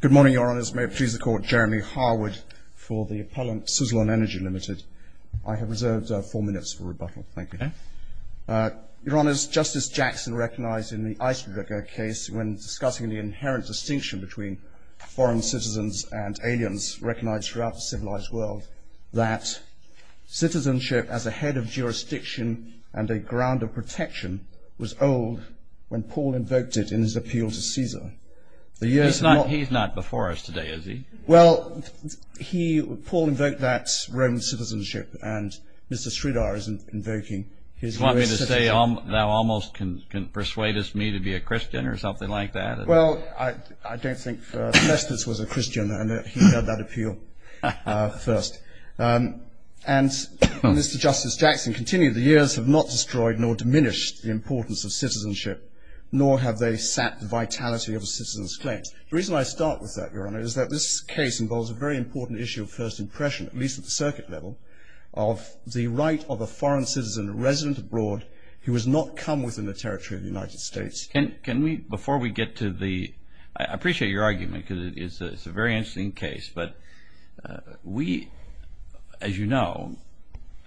Good morning, Your Honours. May it please the Court, Jeremy Harwood for the appellant, Sizzlon Energy Ltd. I have reserved four minutes for rebuttal. Thank you. Your Honours, Justice Jackson recognised in the Eisendricker case, when discussing the inherent distinction between foreign citizens and aliens, recognised throughout the civilised world, that citizenship as a head of jurisdiction and a ground of protection was old when Paul invoked it in his appeal to Caesar. He's not before us today, is he? Well, Paul invoked that Roman citizenship and Mr. Sridhar is invoking his US citizenship. Do you want me to say, thou almost can persuade me to be a Christian or something like that? Well, I don't think Semestris was a Christian and he heard that appeal first. And Mr. Justice Jackson continued, the years have not destroyed nor diminished the importance of citizenship, nor have they sat the vitality of a citizen's claims. The reason I start with that, Your Honour, is that this case involves a very important issue of first impression, at least at the circuit level, of the right of a foreign citizen, a resident abroad, who has not come within the territory of the United States. Can we, before we get to the, I appreciate your argument because it's a very interesting case, but we, as you know,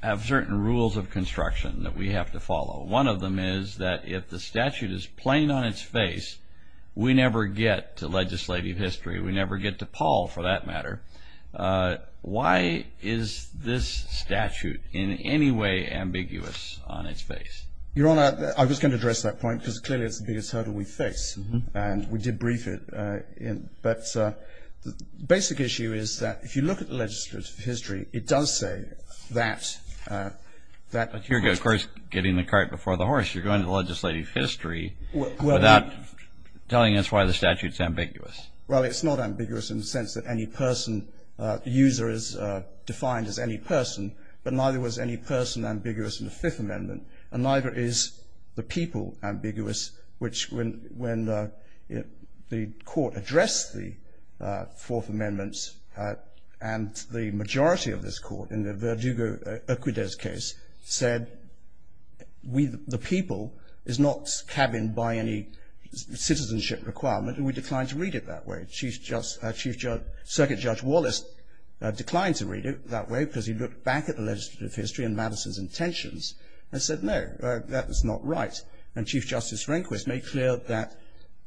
have certain rules of construction that we have to follow. One of them is that if the statute is plain on its face, we never get to legislative history. We never get to Paul, for that matter. Why is this statute in any way ambiguous on its face? Your Honour, I was going to address that point because clearly it's the biggest hurdle we face, and we did brief it, but the basic issue is that if you look at the legislative history, it does say that that person... But you're, of course, getting the cart before the horse. You're going to legislative history without telling us why the statute's ambiguous. Well, it's not ambiguous in the sense that any person, the user is defined as any person, but neither was any person ambiguous in the Fifth Amendment, and neither is the people ambiguous, which when the court addressed the Fourth Amendment and the majority of this court, in the Verdugo-Oquidez case, said the people is not cabined by any citizenship requirement, and we declined to read it that way. Chief Justice, Circuit Judge Wallace declined to read it that way because he looked back at the legislative history and Madison's intentions and said, No, that is not right. And Chief Justice Rehnquist made clear that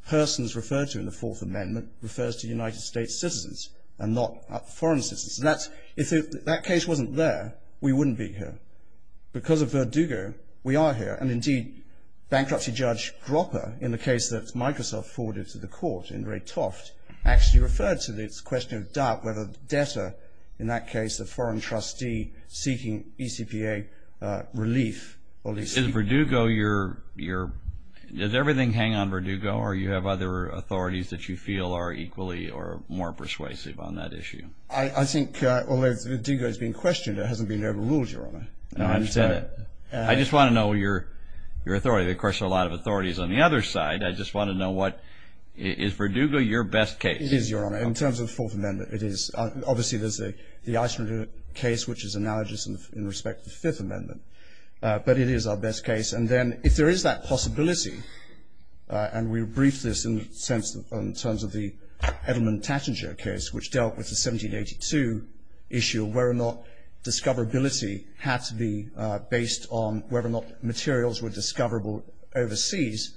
persons referred to in the Fourth Amendment refers to United States citizens and not foreign citizens. If that case wasn't there, we wouldn't be here. Because of Verdugo, we are here, and indeed, bankruptcy judge Dropper, in the case that Microsoft forwarded to the court in Ray Toft, actually referred to this question of doubt whether the debtor, in that case, a foreign trustee seeking ECPA relief. Does everything hang on Verdugo, or do you have other authorities that you feel are equally or more persuasive on that issue? I think, although Verdugo has been questioned, it hasn't been overruled, Your Honor. I just want to know your authority. Of course, there are a lot of authorities on the other side. I just want to know, is Verdugo your best case? It is, Your Honor. In terms of the Fourth Amendment, it is. Obviously, there's the Eisenhower case, which is analogous in respect to the Fifth Amendment. But it is our best case. And then if there is that possibility, and we briefed this in terms of the Edelman-Tattinger case, which dealt with the 1782 issue of whether or not discoverability had to be based on whether or not materials were discoverable overseas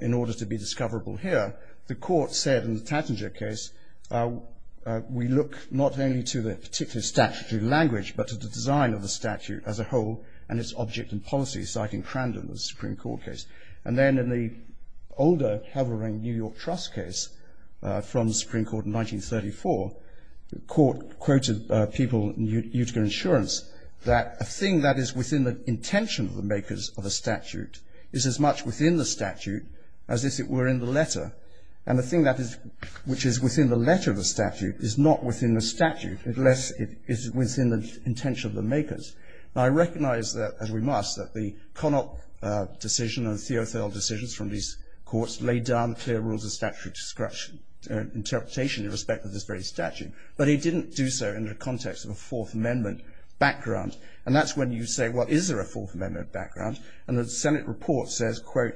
in order to be discoverable here. The court said in the Tattinger case, we look not only to the particular statutory language, but to the design of the statute as a whole and its object and policy, citing Crandon in the Supreme Court case. And then in the older Hevering New York Trust case from the Supreme Court in 1934, the court quoted people in Utica Insurance that a thing that is within the intention of the makers of a statute is as much within the statute as if it were in the letter. And the thing which is within the letter of the statute is not within the statute, unless it is within the intention of the makers. Now, I recognize that, as we must, that the Connock decision and the Theothold decisions from these courts laid down clear rules of statutory interpretation in respect of this very statute. But he didn't do so in the context of a Fourth Amendment background. And that's when you say, well, is there a Fourth Amendment background? And the Senate report says, quote,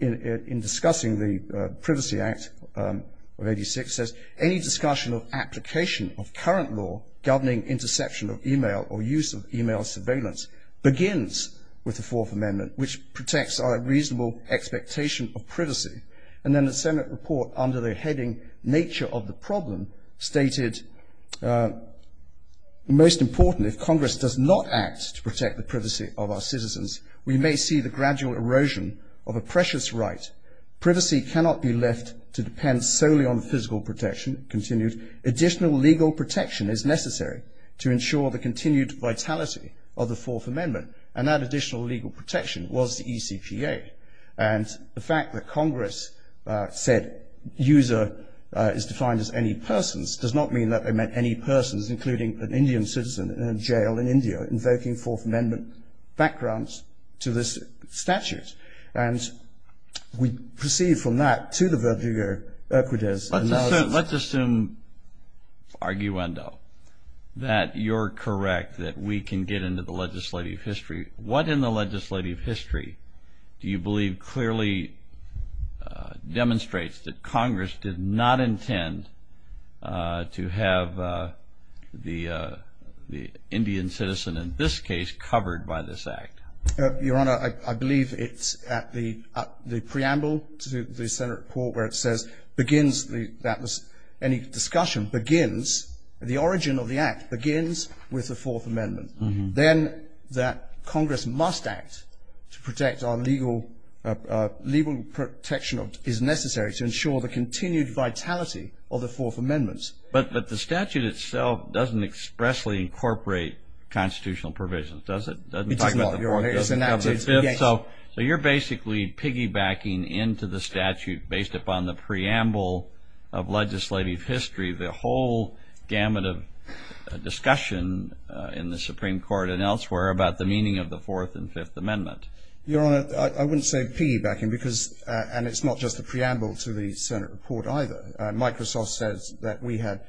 in discussing the Privacy Act of 86, says any discussion of application of current law governing interception of e-mail or use of e-mail surveillance begins with the Fourth Amendment, which protects our reasonable expectation of privacy. And then the Senate report, under the heading Nature of the Problem, stated, most important, if Congress does not act to protect the privacy of our citizens, we may see the gradual erosion of a precious right. Privacy cannot be left to depend solely on physical protection, continued. Additional legal protection is necessary to ensure the continued vitality of the Fourth Amendment. And that additional legal protection was the ECPA. And the fact that Congress said user is defined as any persons does not mean that they meant any persons, including an Indian citizen in a jail in India invoking Fourth Amendment backgrounds to this statute. And we proceed from that to the Virgilio Urquidez. Let's assume, arguendo, that you're correct, that we can get into the legislative history. What in the legislative history do you believe clearly demonstrates that Congress did not intend to have the Indian citizen in this case covered by this Act? Your Honor, I believe it's at the preamble to the Senate report where it says begins, that was any discussion, begins, the origin of the Act begins with the Fourth Amendment. Then that Congress must act to protect our legal protection is necessary to ensure the continued vitality of the Fourth Amendment. But the statute itself doesn't expressly incorporate constitutional provisions, does it? It does not, Your Honor. So you're basically piggybacking into the statute based upon the preamble of legislative history, the whole gamut of discussion in the Supreme Court and elsewhere about the meaning of the Fourth and Fifth Amendment. Your Honor, I wouldn't say piggybacking because, and it's not just the preamble to the Senate report either. Microsoft says that we had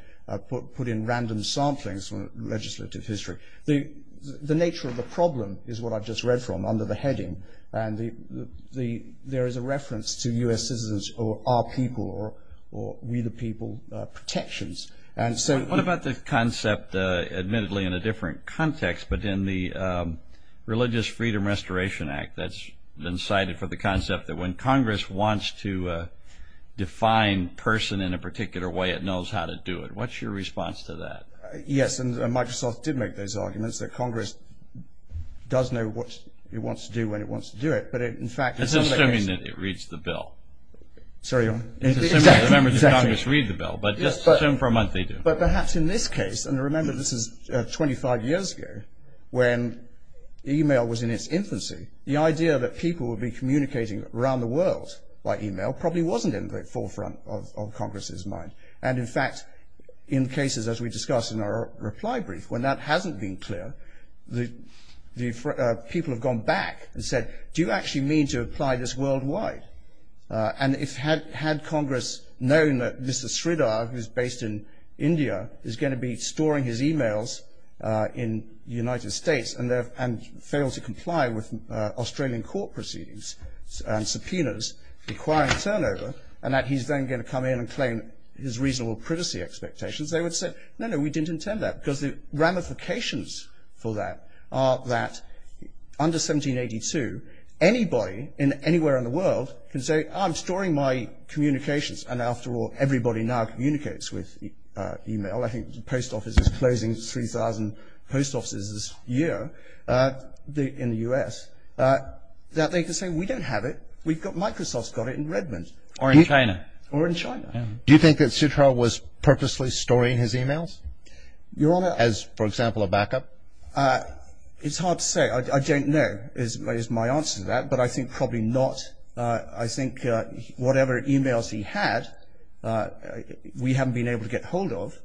put in random samplings from legislative history. The nature of the problem is what I've just read from under the heading, and there is a reference to U.S. citizens or our people or we the people protections. What about the concept, admittedly in a different context, but in the Religious Freedom Restoration Act that's been cited for the concept that when Congress wants to define person in a particular way, it knows how to do it. What's your response to that? Yes, and Microsoft did make those arguments that Congress does know what it wants to do when it wants to do it. It's assuming that it reads the bill. Sorry, Your Honor. It's assuming the members of Congress read the bill, but just assume for a month they do. But perhaps in this case, and remember this is 25 years ago when email was in its infancy, the idea that people would be communicating around the world by email probably wasn't in the forefront of Congress's mind. And, in fact, in cases as we discussed in our reply brief, when that hasn't been clear, the people have gone back and said, do you actually mean to apply this worldwide? And had Congress known that Mr. Sridhar, who is based in India, is going to be storing his emails in the United States and fail to comply with Australian court proceedings and subpoenas requiring turnover, and that he's then going to come in and claim his reasonable privacy expectations, they would say, no, no, we didn't intend that. Because the ramifications for that are that under 1782, anybody anywhere in the world can say, I'm storing my communications, and after all, everybody now communicates with email. I think the post office is closing 3,000 post offices this year in the U.S. that they can say, we don't have it, Microsoft's got it in Redmond. Or in China. Or in China. Do you think that Sridhar was purposely storing his emails as, for example, a backup? It's hard to say. I don't know is my answer to that, but I think probably not. I think whatever emails he had, we haven't been able to get hold of.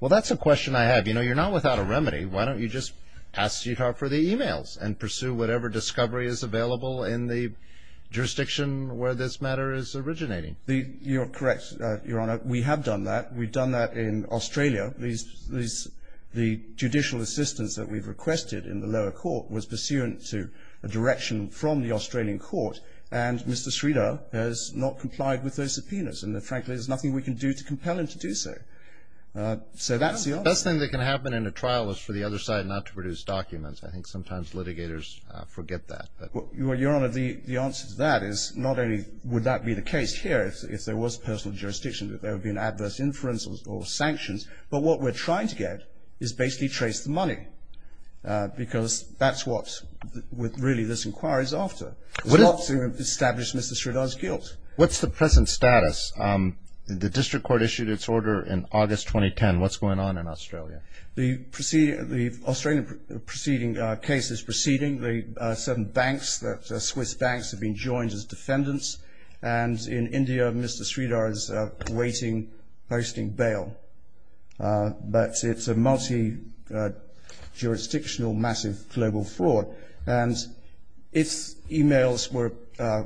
Well, that's a question I have. You know, you're not without a remedy. Why don't you just ask Sridhar for the emails and pursue whatever discovery is available in the jurisdiction where this matter is originating? You're correct, Your Honor. We have done that. We've done that in Australia. The judicial assistance that we've requested in the lower court was pursuant to a direction from the Australian court, and Mr. Sridhar has not complied with those subpoenas. And, frankly, there's nothing we can do to compel him to do so. So that's the answer. The best thing that can happen in a trial is for the other side not to produce documents. I think sometimes litigators forget that. Well, Your Honor, the answer to that is not only would that be the case here if there was personal jurisdiction, if there had been adverse inferences or sanctions, but what we're trying to get is basically trace the money because that's what really this inquiry is after, is to establish Mr. Sridhar's guilt. What's the present status? The district court issued its order in August 2010. What's going on in Australia? The Australian proceeding case is proceeding. The certain banks, Swiss banks, have been joined as defendants, and in India Mr. Sridhar is awaiting posting bail. But it's a multi-jurisdictional, massive global fraud, and its emails were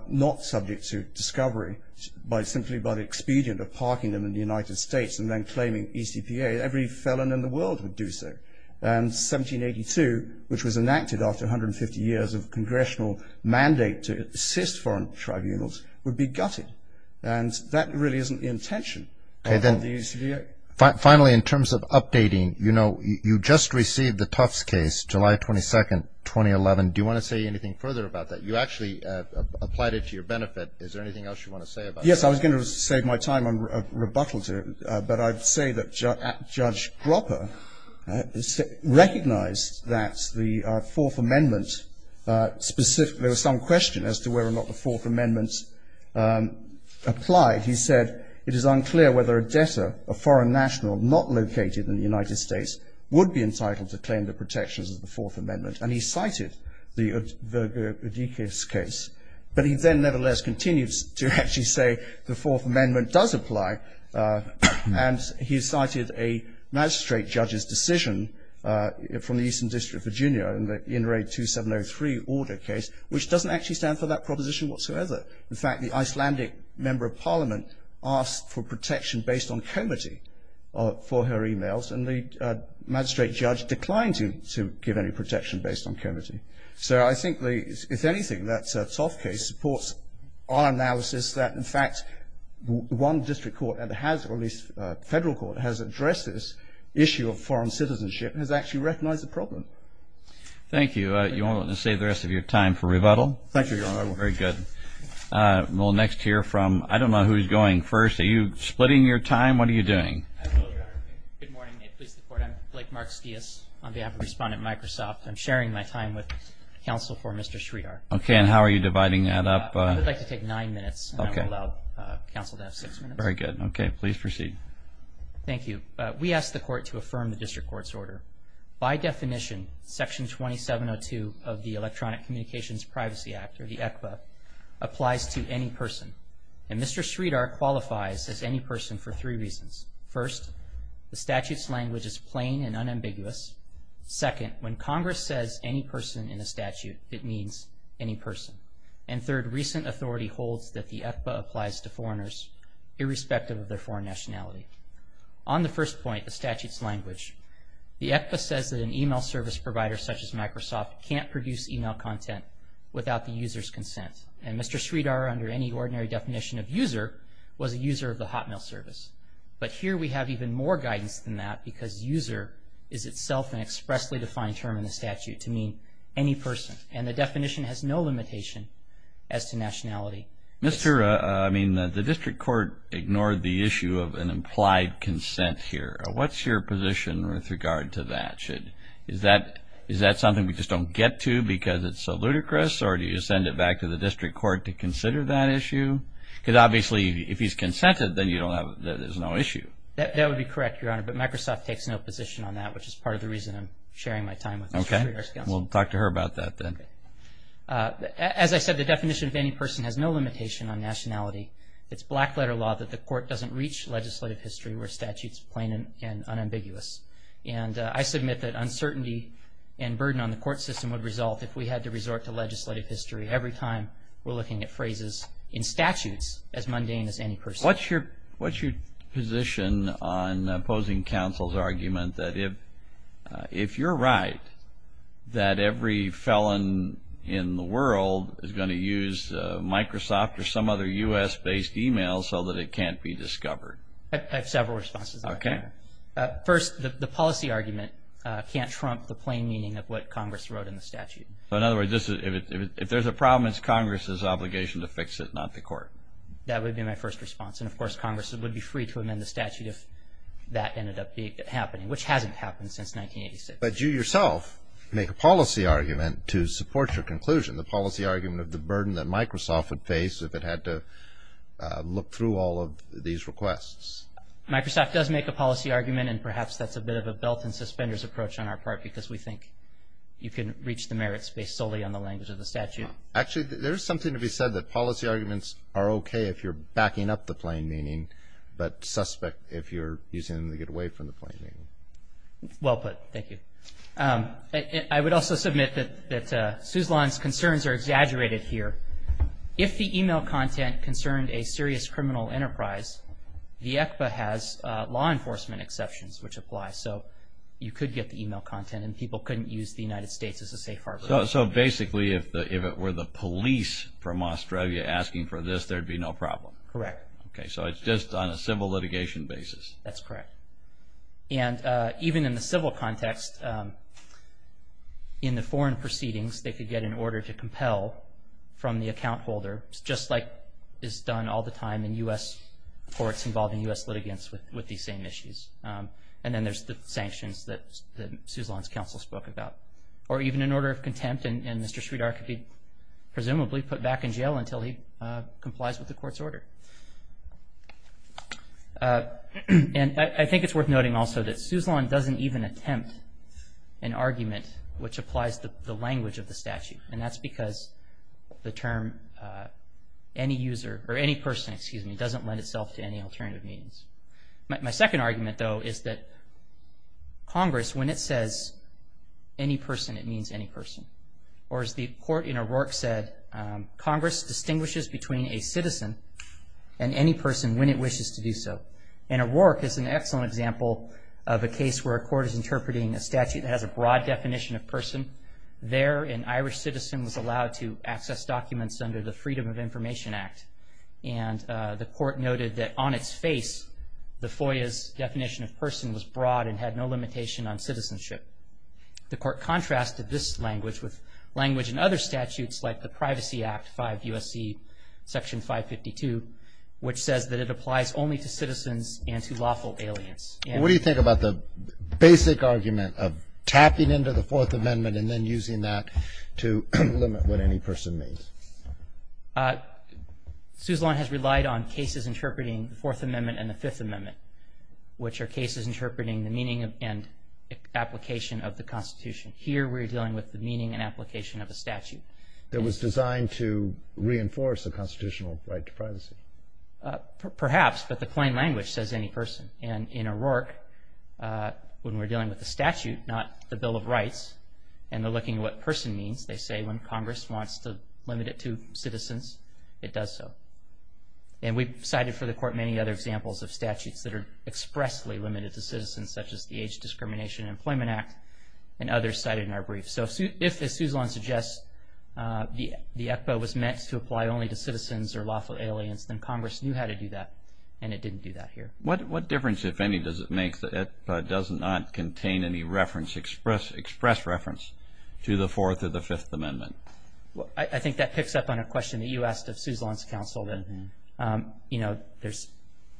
not subject to discovery simply by the expedient of parking them in the United States and then claiming ECPA. Every felon in the world would do so. And 1782, which was enacted after 150 years of congressional mandate to assist foreign tribunals, would be gutted, and that really isn't the intention of the ECPA. Finally, in terms of updating, you know, you just received the Tufts case, July 22, 2011. Do you want to say anything further about that? You actually applied it to your benefit. Is there anything else you want to say about that? Yes, I was going to save my time and rebuttal to it, but I'd say that Judge Gropper recognized that the Fourth Amendment specifically, there was some question as to whether or not the Fourth Amendment applied. He said it is unclear whether a debtor, a foreign national not located in the United States, would be entitled to claim the protections of the Fourth Amendment. And he cited the Verga-Udikes case. But he then, nevertheless, continues to actually say the Fourth Amendment does apply, and he cited a magistrate judge's decision from the Eastern District of Virginia, in the Inouye 2703 order case, which doesn't actually stand for that proposition whatsoever. In fact, the Icelandic member of parliament asked for protection based on comity for her e-mails, and the magistrate judge declined to give any protection based on comity. So I think, if anything, that Toff case supports our analysis that, in fact, one district court, or at least federal court, has addressed this issue of foreign citizenship and has actually recognized the problem. Thank you. Do you want to save the rest of your time for rebuttal? Thank you, Your Honor. Very good. We'll next hear from, I don't know who's going first. Are you splitting your time? What are you doing? Good morning. May it please the Court. I'm Blake Marks-Dias on behalf of Respondent Microsoft. I'm sharing my time with counsel for Mr. Sridhar. Okay. And how are you dividing that up? I would like to take nine minutes. Okay. And I will allow counsel to have six minutes. Very good. Okay. Please proceed. Thank you. We ask the Court to affirm the district court's order. By definition, Section 2702 of the Electronic Communications Privacy Act, or the ECPA, applies to any person. And Mr. Sridhar qualifies as any person for three reasons. First, the statute's language is plain and unambiguous. Second, when Congress says any person in a statute, it means any person. And third, recent authority holds that the ECPA applies to foreigners, irrespective of their foreign nationality. On the first point, the statute's language, the ECPA says that an email service provider such as Microsoft can't produce email content without the user's consent. And Mr. Sridhar, under any ordinary definition of user, was a user of the hotmail service. But here we have even more guidance than that, because user is itself an expressly defined term in the statute to mean any person. And the definition has no limitation as to nationality. Mr. I mean, the district court ignored the issue of an implied consent here. What's your position with regard to that? Is that something we just don't get to because it's so ludicrous, or do you send it back to the district court to consider that issue? Because obviously, if he's consented, then there's no issue. That would be correct, Your Honor, but Microsoft takes no position on that, which is part of the reason I'm sharing my time with Mr. Sridhar's counsel. Okay. We'll talk to her about that then. As I said, the definition of any person has no limitation on nationality. It's black-letter law that the court doesn't reach legislative history where statute's plain and unambiguous. And I submit that uncertainty and burden on the court system would result if we had to resort to legislative history every time we're looking at phrases in statutes as mundane as any person. What's your position on opposing counsel's argument that if you're right, that every felon in the world is going to use Microsoft or some other U.S.-based email so that it can't be discovered? I have several responses. Okay. First, the policy argument can't trump the plain meaning of what Congress wrote in the statute. In other words, if there's a problem, it's Congress's obligation to fix it, not the court. That would be my first response. And, of course, Congress would be free to amend the statute if that ended up happening, which hasn't happened since 1986. But you yourself make a policy argument to support your conclusion, the policy argument of the burden that Microsoft would face if it had to look through all of these requests. Microsoft does make a policy argument, and perhaps that's a bit of a belt-and-suspenders approach on our part because we think you can reach the merits based solely on the language of the statute. Actually, there is something to be said that policy arguments are okay if you're backing up the plain meaning, but suspect if you're using them to get away from the plain meaning. Well put. Thank you. I would also submit that Suzlon's concerns are exaggerated here. If the email content concerned a serious criminal enterprise, the ECPA has law enforcement exceptions which apply, so you could get the email content and people couldn't use the United States as a safe harbor. So basically if it were the police from Australia asking for this, there'd be no problem. Correct. Okay, so it's just on a civil litigation basis. That's correct. And even in the civil context, in the foreign proceedings, they could get an order to compel from the account holder, just like is done all the time in U.S. courts involving U.S. litigants with these same issues. And then there's the sanctions that Suzlon's counsel spoke about. Or even an order of contempt, and Mr. Sridhar could be presumably put back in jail until he complies with the court's order. And I think it's worth noting also that Suzlon doesn't even attempt an argument which applies to the language of the statute, and that's because the term any user or any person, excuse me, doesn't lend itself to any alternative means. My second argument, though, is that Congress, when it says any person, it means any person. Or as the court in O'Rourke said, Congress distinguishes between a citizen and any person when it wishes to do so. And O'Rourke is an excellent example of a case where a court is interpreting a statute that has a broad definition of person. There, an Irish citizen was allowed to access documents under the Freedom of Information Act. And the court noted that on its face, the FOIA's definition of person was broad and had no limitation on citizenship. The court contrasted this language with language in other statutes, like the Privacy Act, 5 U.S.C. section 552, which says that it applies only to citizens and to lawful aliens. What do you think about the basic argument of tapping into the Fourth Amendment and then using that to limit what any person means? Suzlon has relied on cases interpreting the Fourth Amendment and the Fifth Amendment, which are cases interpreting the meaning and application of the Constitution. Here, we're dealing with the meaning and application of a statute. That was designed to reinforce a constitutional right to privacy. Perhaps, but the plain language says any person. And in O'Rourke, when we're dealing with the statute, not the Bill of Rights, and looking at what person means, they say when Congress wants to limit it to citizens, it does so. And we've cited for the court many other examples of statutes that are expressly limited to citizens, such as the Age Discrimination and Employment Act, and others cited in our brief. So if, as Suzlon suggests, the ECPA was meant to apply only to citizens or lawful aliens, then Congress knew how to do that, and it didn't do that here. What difference, if any, does it make that it does not contain any reference, express reference to the Fourth or the Fifth Amendment? I think that picks up on a question that you asked of Suzlon's counsel. There's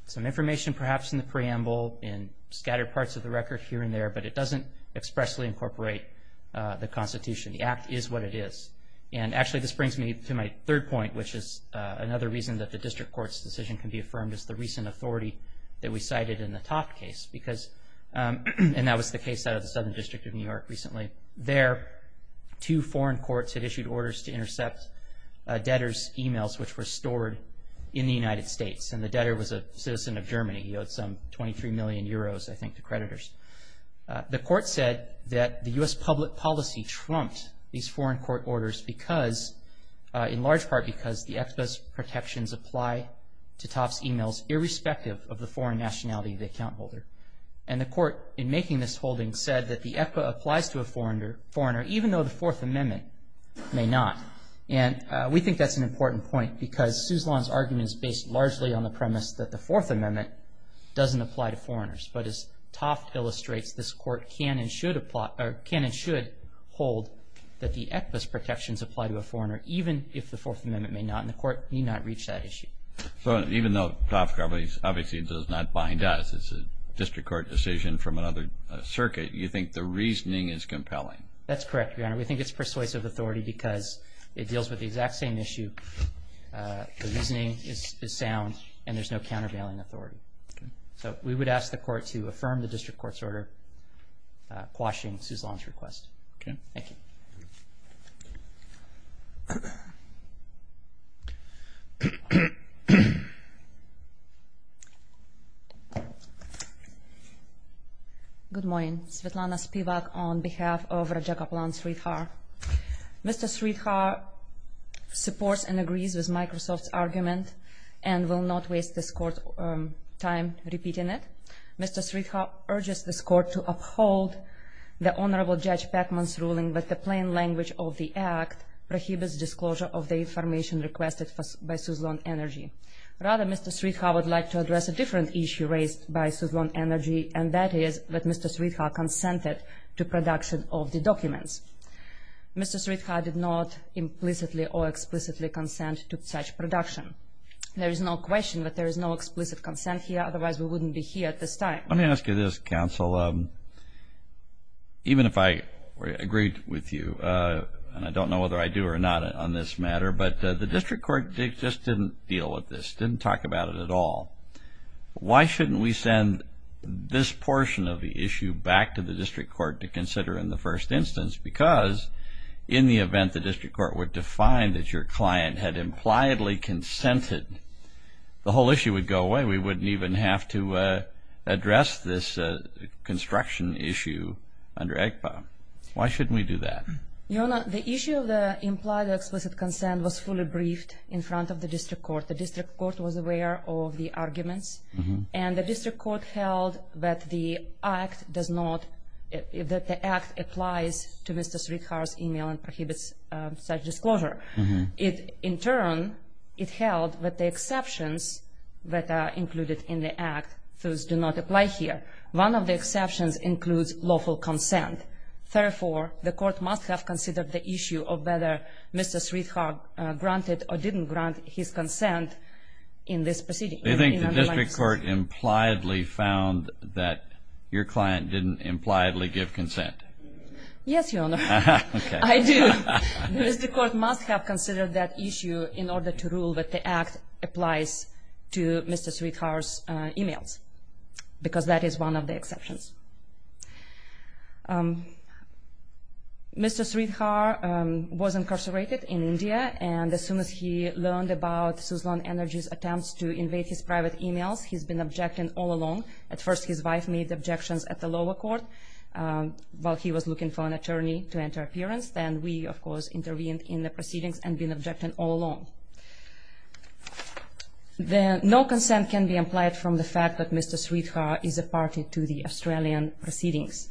some information perhaps in the preamble and scattered parts of the record here and there, but it doesn't expressly incorporate the Constitution. The Act is what it is. And actually, this brings me to my third point, which is another reason that the district court's decision can be affirmed as the recent authority that we cited in the Toft case. And that was the case out of the Southern District of New York recently. There, two foreign courts had issued orders to intercept debtors' emails, which were stored in the United States. And the debtor was a citizen of Germany. He owed some 23 million euros, I think, to creditors. The court said that the U.S. public policy trumped these foreign court orders because, in large part, because the ECPA's protections apply to Toft's emails, irrespective of the foreign nationality of the account holder. And the court, in making this holding, said that the ECPA applies to a foreigner, even though the Fourth Amendment may not. And we think that's an important point, because Suzlon's argument is based largely on the premise that the Fourth Amendment doesn't apply to foreigners. But, as Toft illustrates, this court can and should hold that the ECPA's protections apply to a foreigner, even if the Fourth Amendment may not, and the court need not reach that issue. So, even though Toft, obviously, does not bind us, it's a district court decision from another circuit, you think the reasoning is compelling? That's correct, Your Honor. We think it's persuasive authority because it deals with the exact same issue. The reasoning is sound, and there's no countervailing authority. So, we would ask the court to affirm the district court's order quashing Suzlon's request. Okay. Thank you. Good morning. Svetlana Spivak on behalf of Raja Kaplan Sridhar. Mr. Sridhar supports and agrees with Microsoft's argument and will not waste this court's time repeating it. Mr. Sridhar urges this court to uphold the Honorable Judge Peckman's ruling that the plain language of the Act prohibits disclosure of the information requested by Suzlon Energy. Rather, Mr. Sridhar would like to address a different issue raised by Suzlon Energy, and that is that Mr. Sridhar consented to production of the documents. Mr. Sridhar did not implicitly or explicitly consent to such production. There is no question that there is no explicit consent here. Otherwise, we wouldn't be here at this time. Let me ask you this, counsel. Even if I agreed with you, and I don't know whether I do or not on this matter, but the district court just didn't deal with this, didn't talk about it at all. Why shouldn't we send this portion of the issue back to the district court to consider in the first instance? Because in the event the district court were to find that your client had impliedly consented, the whole issue would go away. We wouldn't even have to address this construction issue under ACPA. Why shouldn't we do that? Your Honor, the issue of the implied or explicit consent was fully briefed in front of the district court. The district court was aware of the arguments, and the district court held that the act applies to Mr. Sridhar's email and prohibits such disclosure. In turn, it held that the exceptions that are included in the act do not apply here. One of the exceptions includes lawful consent. Therefore, the court must have considered the issue of whether Mr. Sridhar granted or didn't grant his consent in this proceeding. Do you think the district court impliedly found that your client didn't impliedly give consent? Yes, Your Honor. Okay. I do. The district court must have considered that issue in order to rule that the act applies to Mr. Sridhar's emails, because that is one of the exceptions. Mr. Sridhar was incarcerated in India, and as soon as he learned about Suzlon Energy's attempts to invade his private emails, he's been objecting all along. At first, his wife made objections at the lower court while he was looking for an attorney to enter appearance. Then we, of course, intervened in the proceedings and been objecting all along. No consent can be implied from the fact that Mr. Sridhar is a party to the Australian proceedings.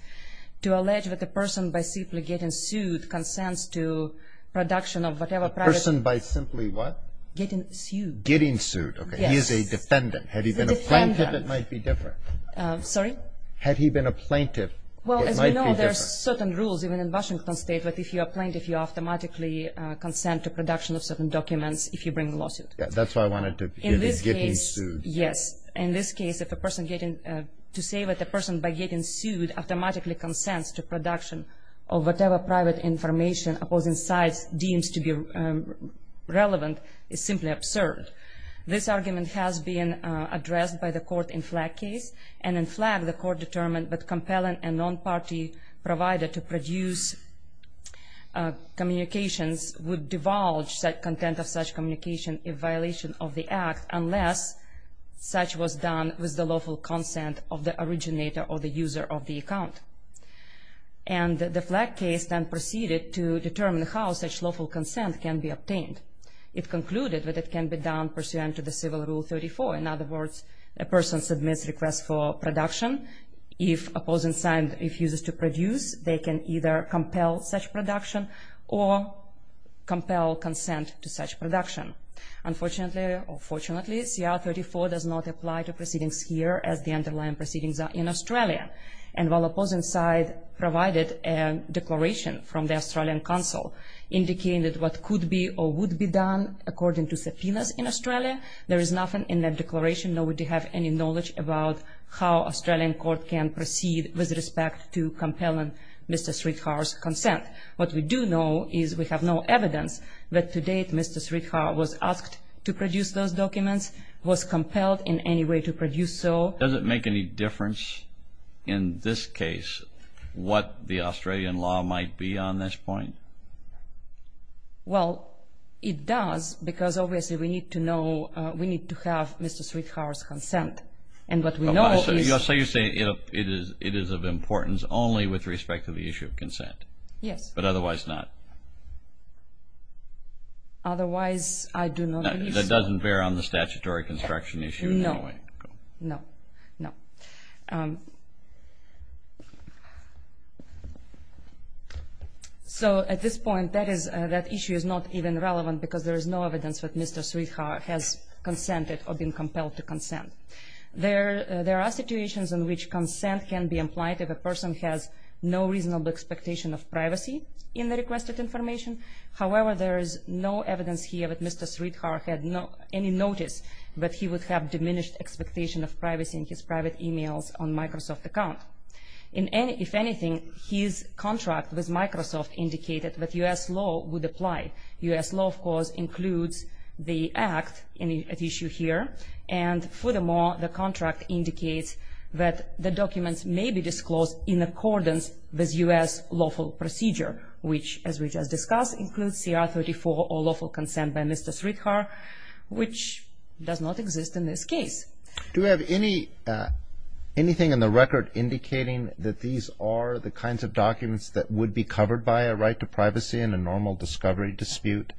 To allege that a person by simply getting sued consents to production of whatever private A person by simply what? Getting sued. Getting sued. Yes. Okay. He is a defendant. Had he been a plaintiff, it might be different. Sorry? Had he been a plaintiff, it might be different. Well, as we know, there are certain rules, even in Washington State, that if you are a plaintiff, you automatically consent to production of certain documents if you bring a lawsuit. That's why I wanted to In this case Getting sued. Yes. In this case, to say that a person by getting sued automatically consents to production of whatever private information opposing sides deems to be relevant is simply absurd. This argument has been addressed by the court in Flagg case, and in Flagg, the court determined that compelling a non-party provider to produce communications would divulge content of such communication in violation of the act unless such was done with the lawful consent of the originator or the user of the account. And the Flagg case then proceeded to determine how such lawful consent can be obtained. It concluded that it can be done pursuant to the Civil Rule 34. In other words, a person submits a request for production. If opposing side refuses to produce, they can either compel such production or compel consent to such production. Unfortunately, or fortunately, CR 34 does not apply to proceedings here as the underlying proceedings are in Australia. And while opposing side provided a declaration from the Australian Council indicating that what could be or would be done according to subpoenas in Australia, there is nothing in that declaration. Nobody has any knowledge about how Australian court can proceed with respect to compelling Mr. Sridhar's consent. What we do know is we have no evidence that to date Mr. Sridhar was asked to produce those documents, was compelled in any way to produce so. Does it make any difference in this case what the Australian law might be on this point? Well, it does because obviously we need to know, we need to have Mr. Sridhar's consent. And what we know is... So you say it is of importance only with respect to the issue of consent? Yes. But otherwise not? Otherwise I do not believe so. That doesn't bear on the statutory construction issue in any way? No, no, no. So at this point that issue is not even relevant because there is no evidence that Mr. Sridhar has consented or been compelled to consent. There are situations in which consent can be implied if a person has no reasonable expectation of privacy in the requested information. However, there is no evidence here that Mr. Sridhar had any notice that he would have diminished expectation of privacy in his private emails on Microsoft account. If anything, his contract with Microsoft indicated that U.S. law would apply. U.S. law, of course, includes the act at issue here. And furthermore, the contract indicates that the documents may be disclosed in accordance with U.S. lawful procedure, which, as we just discussed, includes CR 34 or lawful consent by Mr. Sridhar, which does not exist in this case. Do we have anything in the record indicating that these are the kinds of documents that would be covered by a right to privacy in a normal discovery dispute?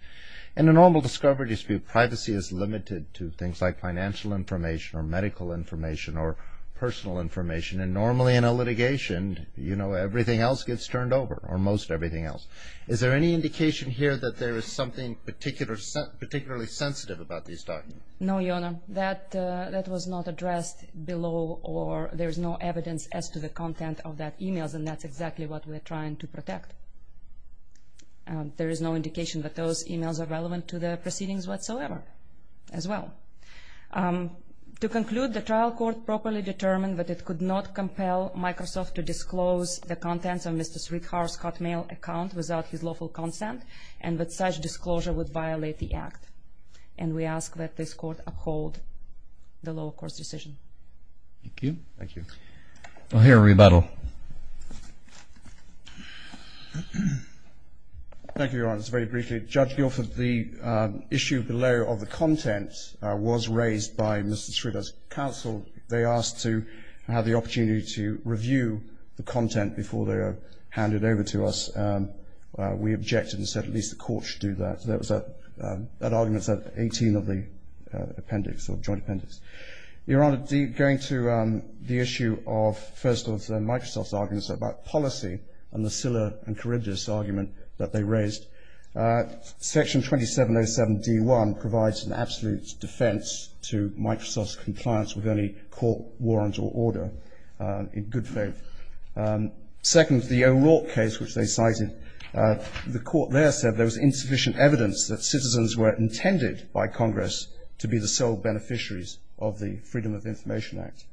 In a normal discovery dispute, privacy is limited to things like financial information or medical information or personal information. And normally in a litigation, you know, everything else gets turned over, or most everything else. Is there any indication here that there is something particularly sensitive about these documents? No, Jona. That was not addressed below, or there is no evidence as to the content of that email, and that's exactly what we're trying to protect. There is no indication that those emails are relevant to the proceedings whatsoever as well. To conclude, the trial court properly determined that it could not compel Microsoft to disclose the contents of Mr. Sridhar's Hotmail account without his lawful consent, and that such disclosure would violate the act. And we ask that this court uphold the lower court's decision. Thank you. Thank you. I'll hear a rebuttal. Thank you, Your Honors. Very briefly, Judge Guilford, the issue below of the contents was raised by Mr. Sridhar's counsel. They asked to have the opportunity to review the content before they are handed over to us. We objected and said at least the court should do that. That argument is at 18 of the appendix, or joint appendix. Your Honor, going to the issue of, first of all, Microsoft's arguments about policy and the Scylla and Charybdis argument that they raised, Section 2707D1 provides an absolute defense to Microsoft's compliance with any court warrant or order, in good faith. Second, the O'Rourke case, which they cited, the court there said there was insufficient evidence that citizens were intended by Congress to be the sole beneficiaries of the Freedom of Information Act.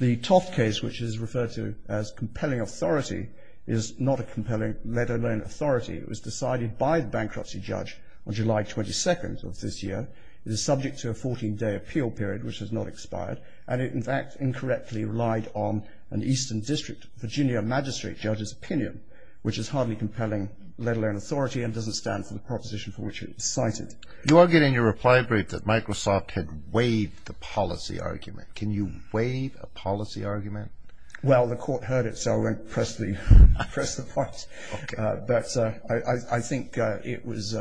The Toft case, which is referred to as compelling authority, is not a compelling, let alone authority. It was decided by the bankruptcy judge on July 22nd of this year. It is subject to a 14-day appeal period, which has not expired. And it, in fact, incorrectly relied on an Eastern District Virginia magistrate judge's opinion, which is hardly compelling, let alone authority, and doesn't stand for the proposition for which it was cited. You argue in your reply brief that Microsoft had waived the policy argument. Can you waive a policy argument? Well, the court heard it, so I won't press the point. But I think it was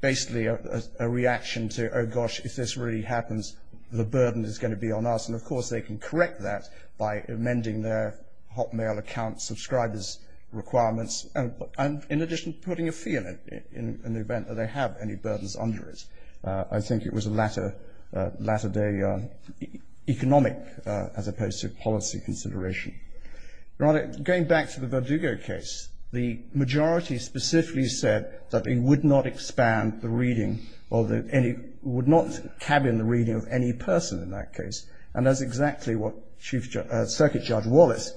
basically a reaction to, oh, gosh, if this really happens, the burden is going to be on us. And, of course, they can correct that by amending their Hotmail account subscriber's requirements and, in addition, putting a fee on it in the event that they have any burdens under it. I think it was a latter-day economic as opposed to policy consideration. Your Honor, going back to the Verdugo case, the majority specifically said that they would not expand the reading or would not cabin the reading of any person in that case, and that's exactly what Circuit Judge Wallace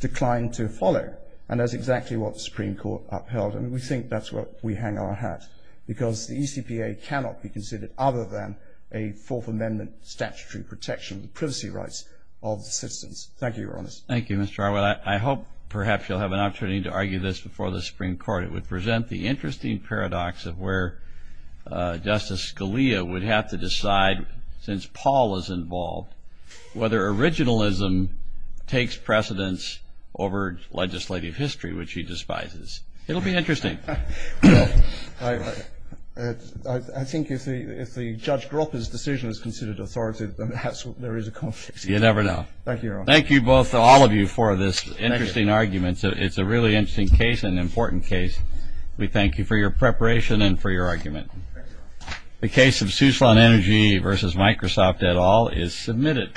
declined to follow, and that's exactly what the Supreme Court upheld. And we think that's where we hang our hat, because the ECPA cannot be considered other than a Fourth Amendment statutory protection of the privacy rights of the citizens. Thank you, Your Honor. Thank you, Mr. Arwell. I hope perhaps you'll have an opportunity to argue this before the Supreme Court. It would present the interesting paradox of where Justice Scalia would have to decide, since Paul is involved, whether originalism takes precedence over legislative history, which he despises. It will be interesting. I think if the Judge Gropper's decision is considered authoritative, then perhaps there is a conflict. You never know. Thank you, Your Honor. Thank you both, all of you, for this interesting argument. It's a really interesting case and an important case. We thank you for your preparation and for your argument. The case of Souslon Energy v. Microsoft et al. is submitted.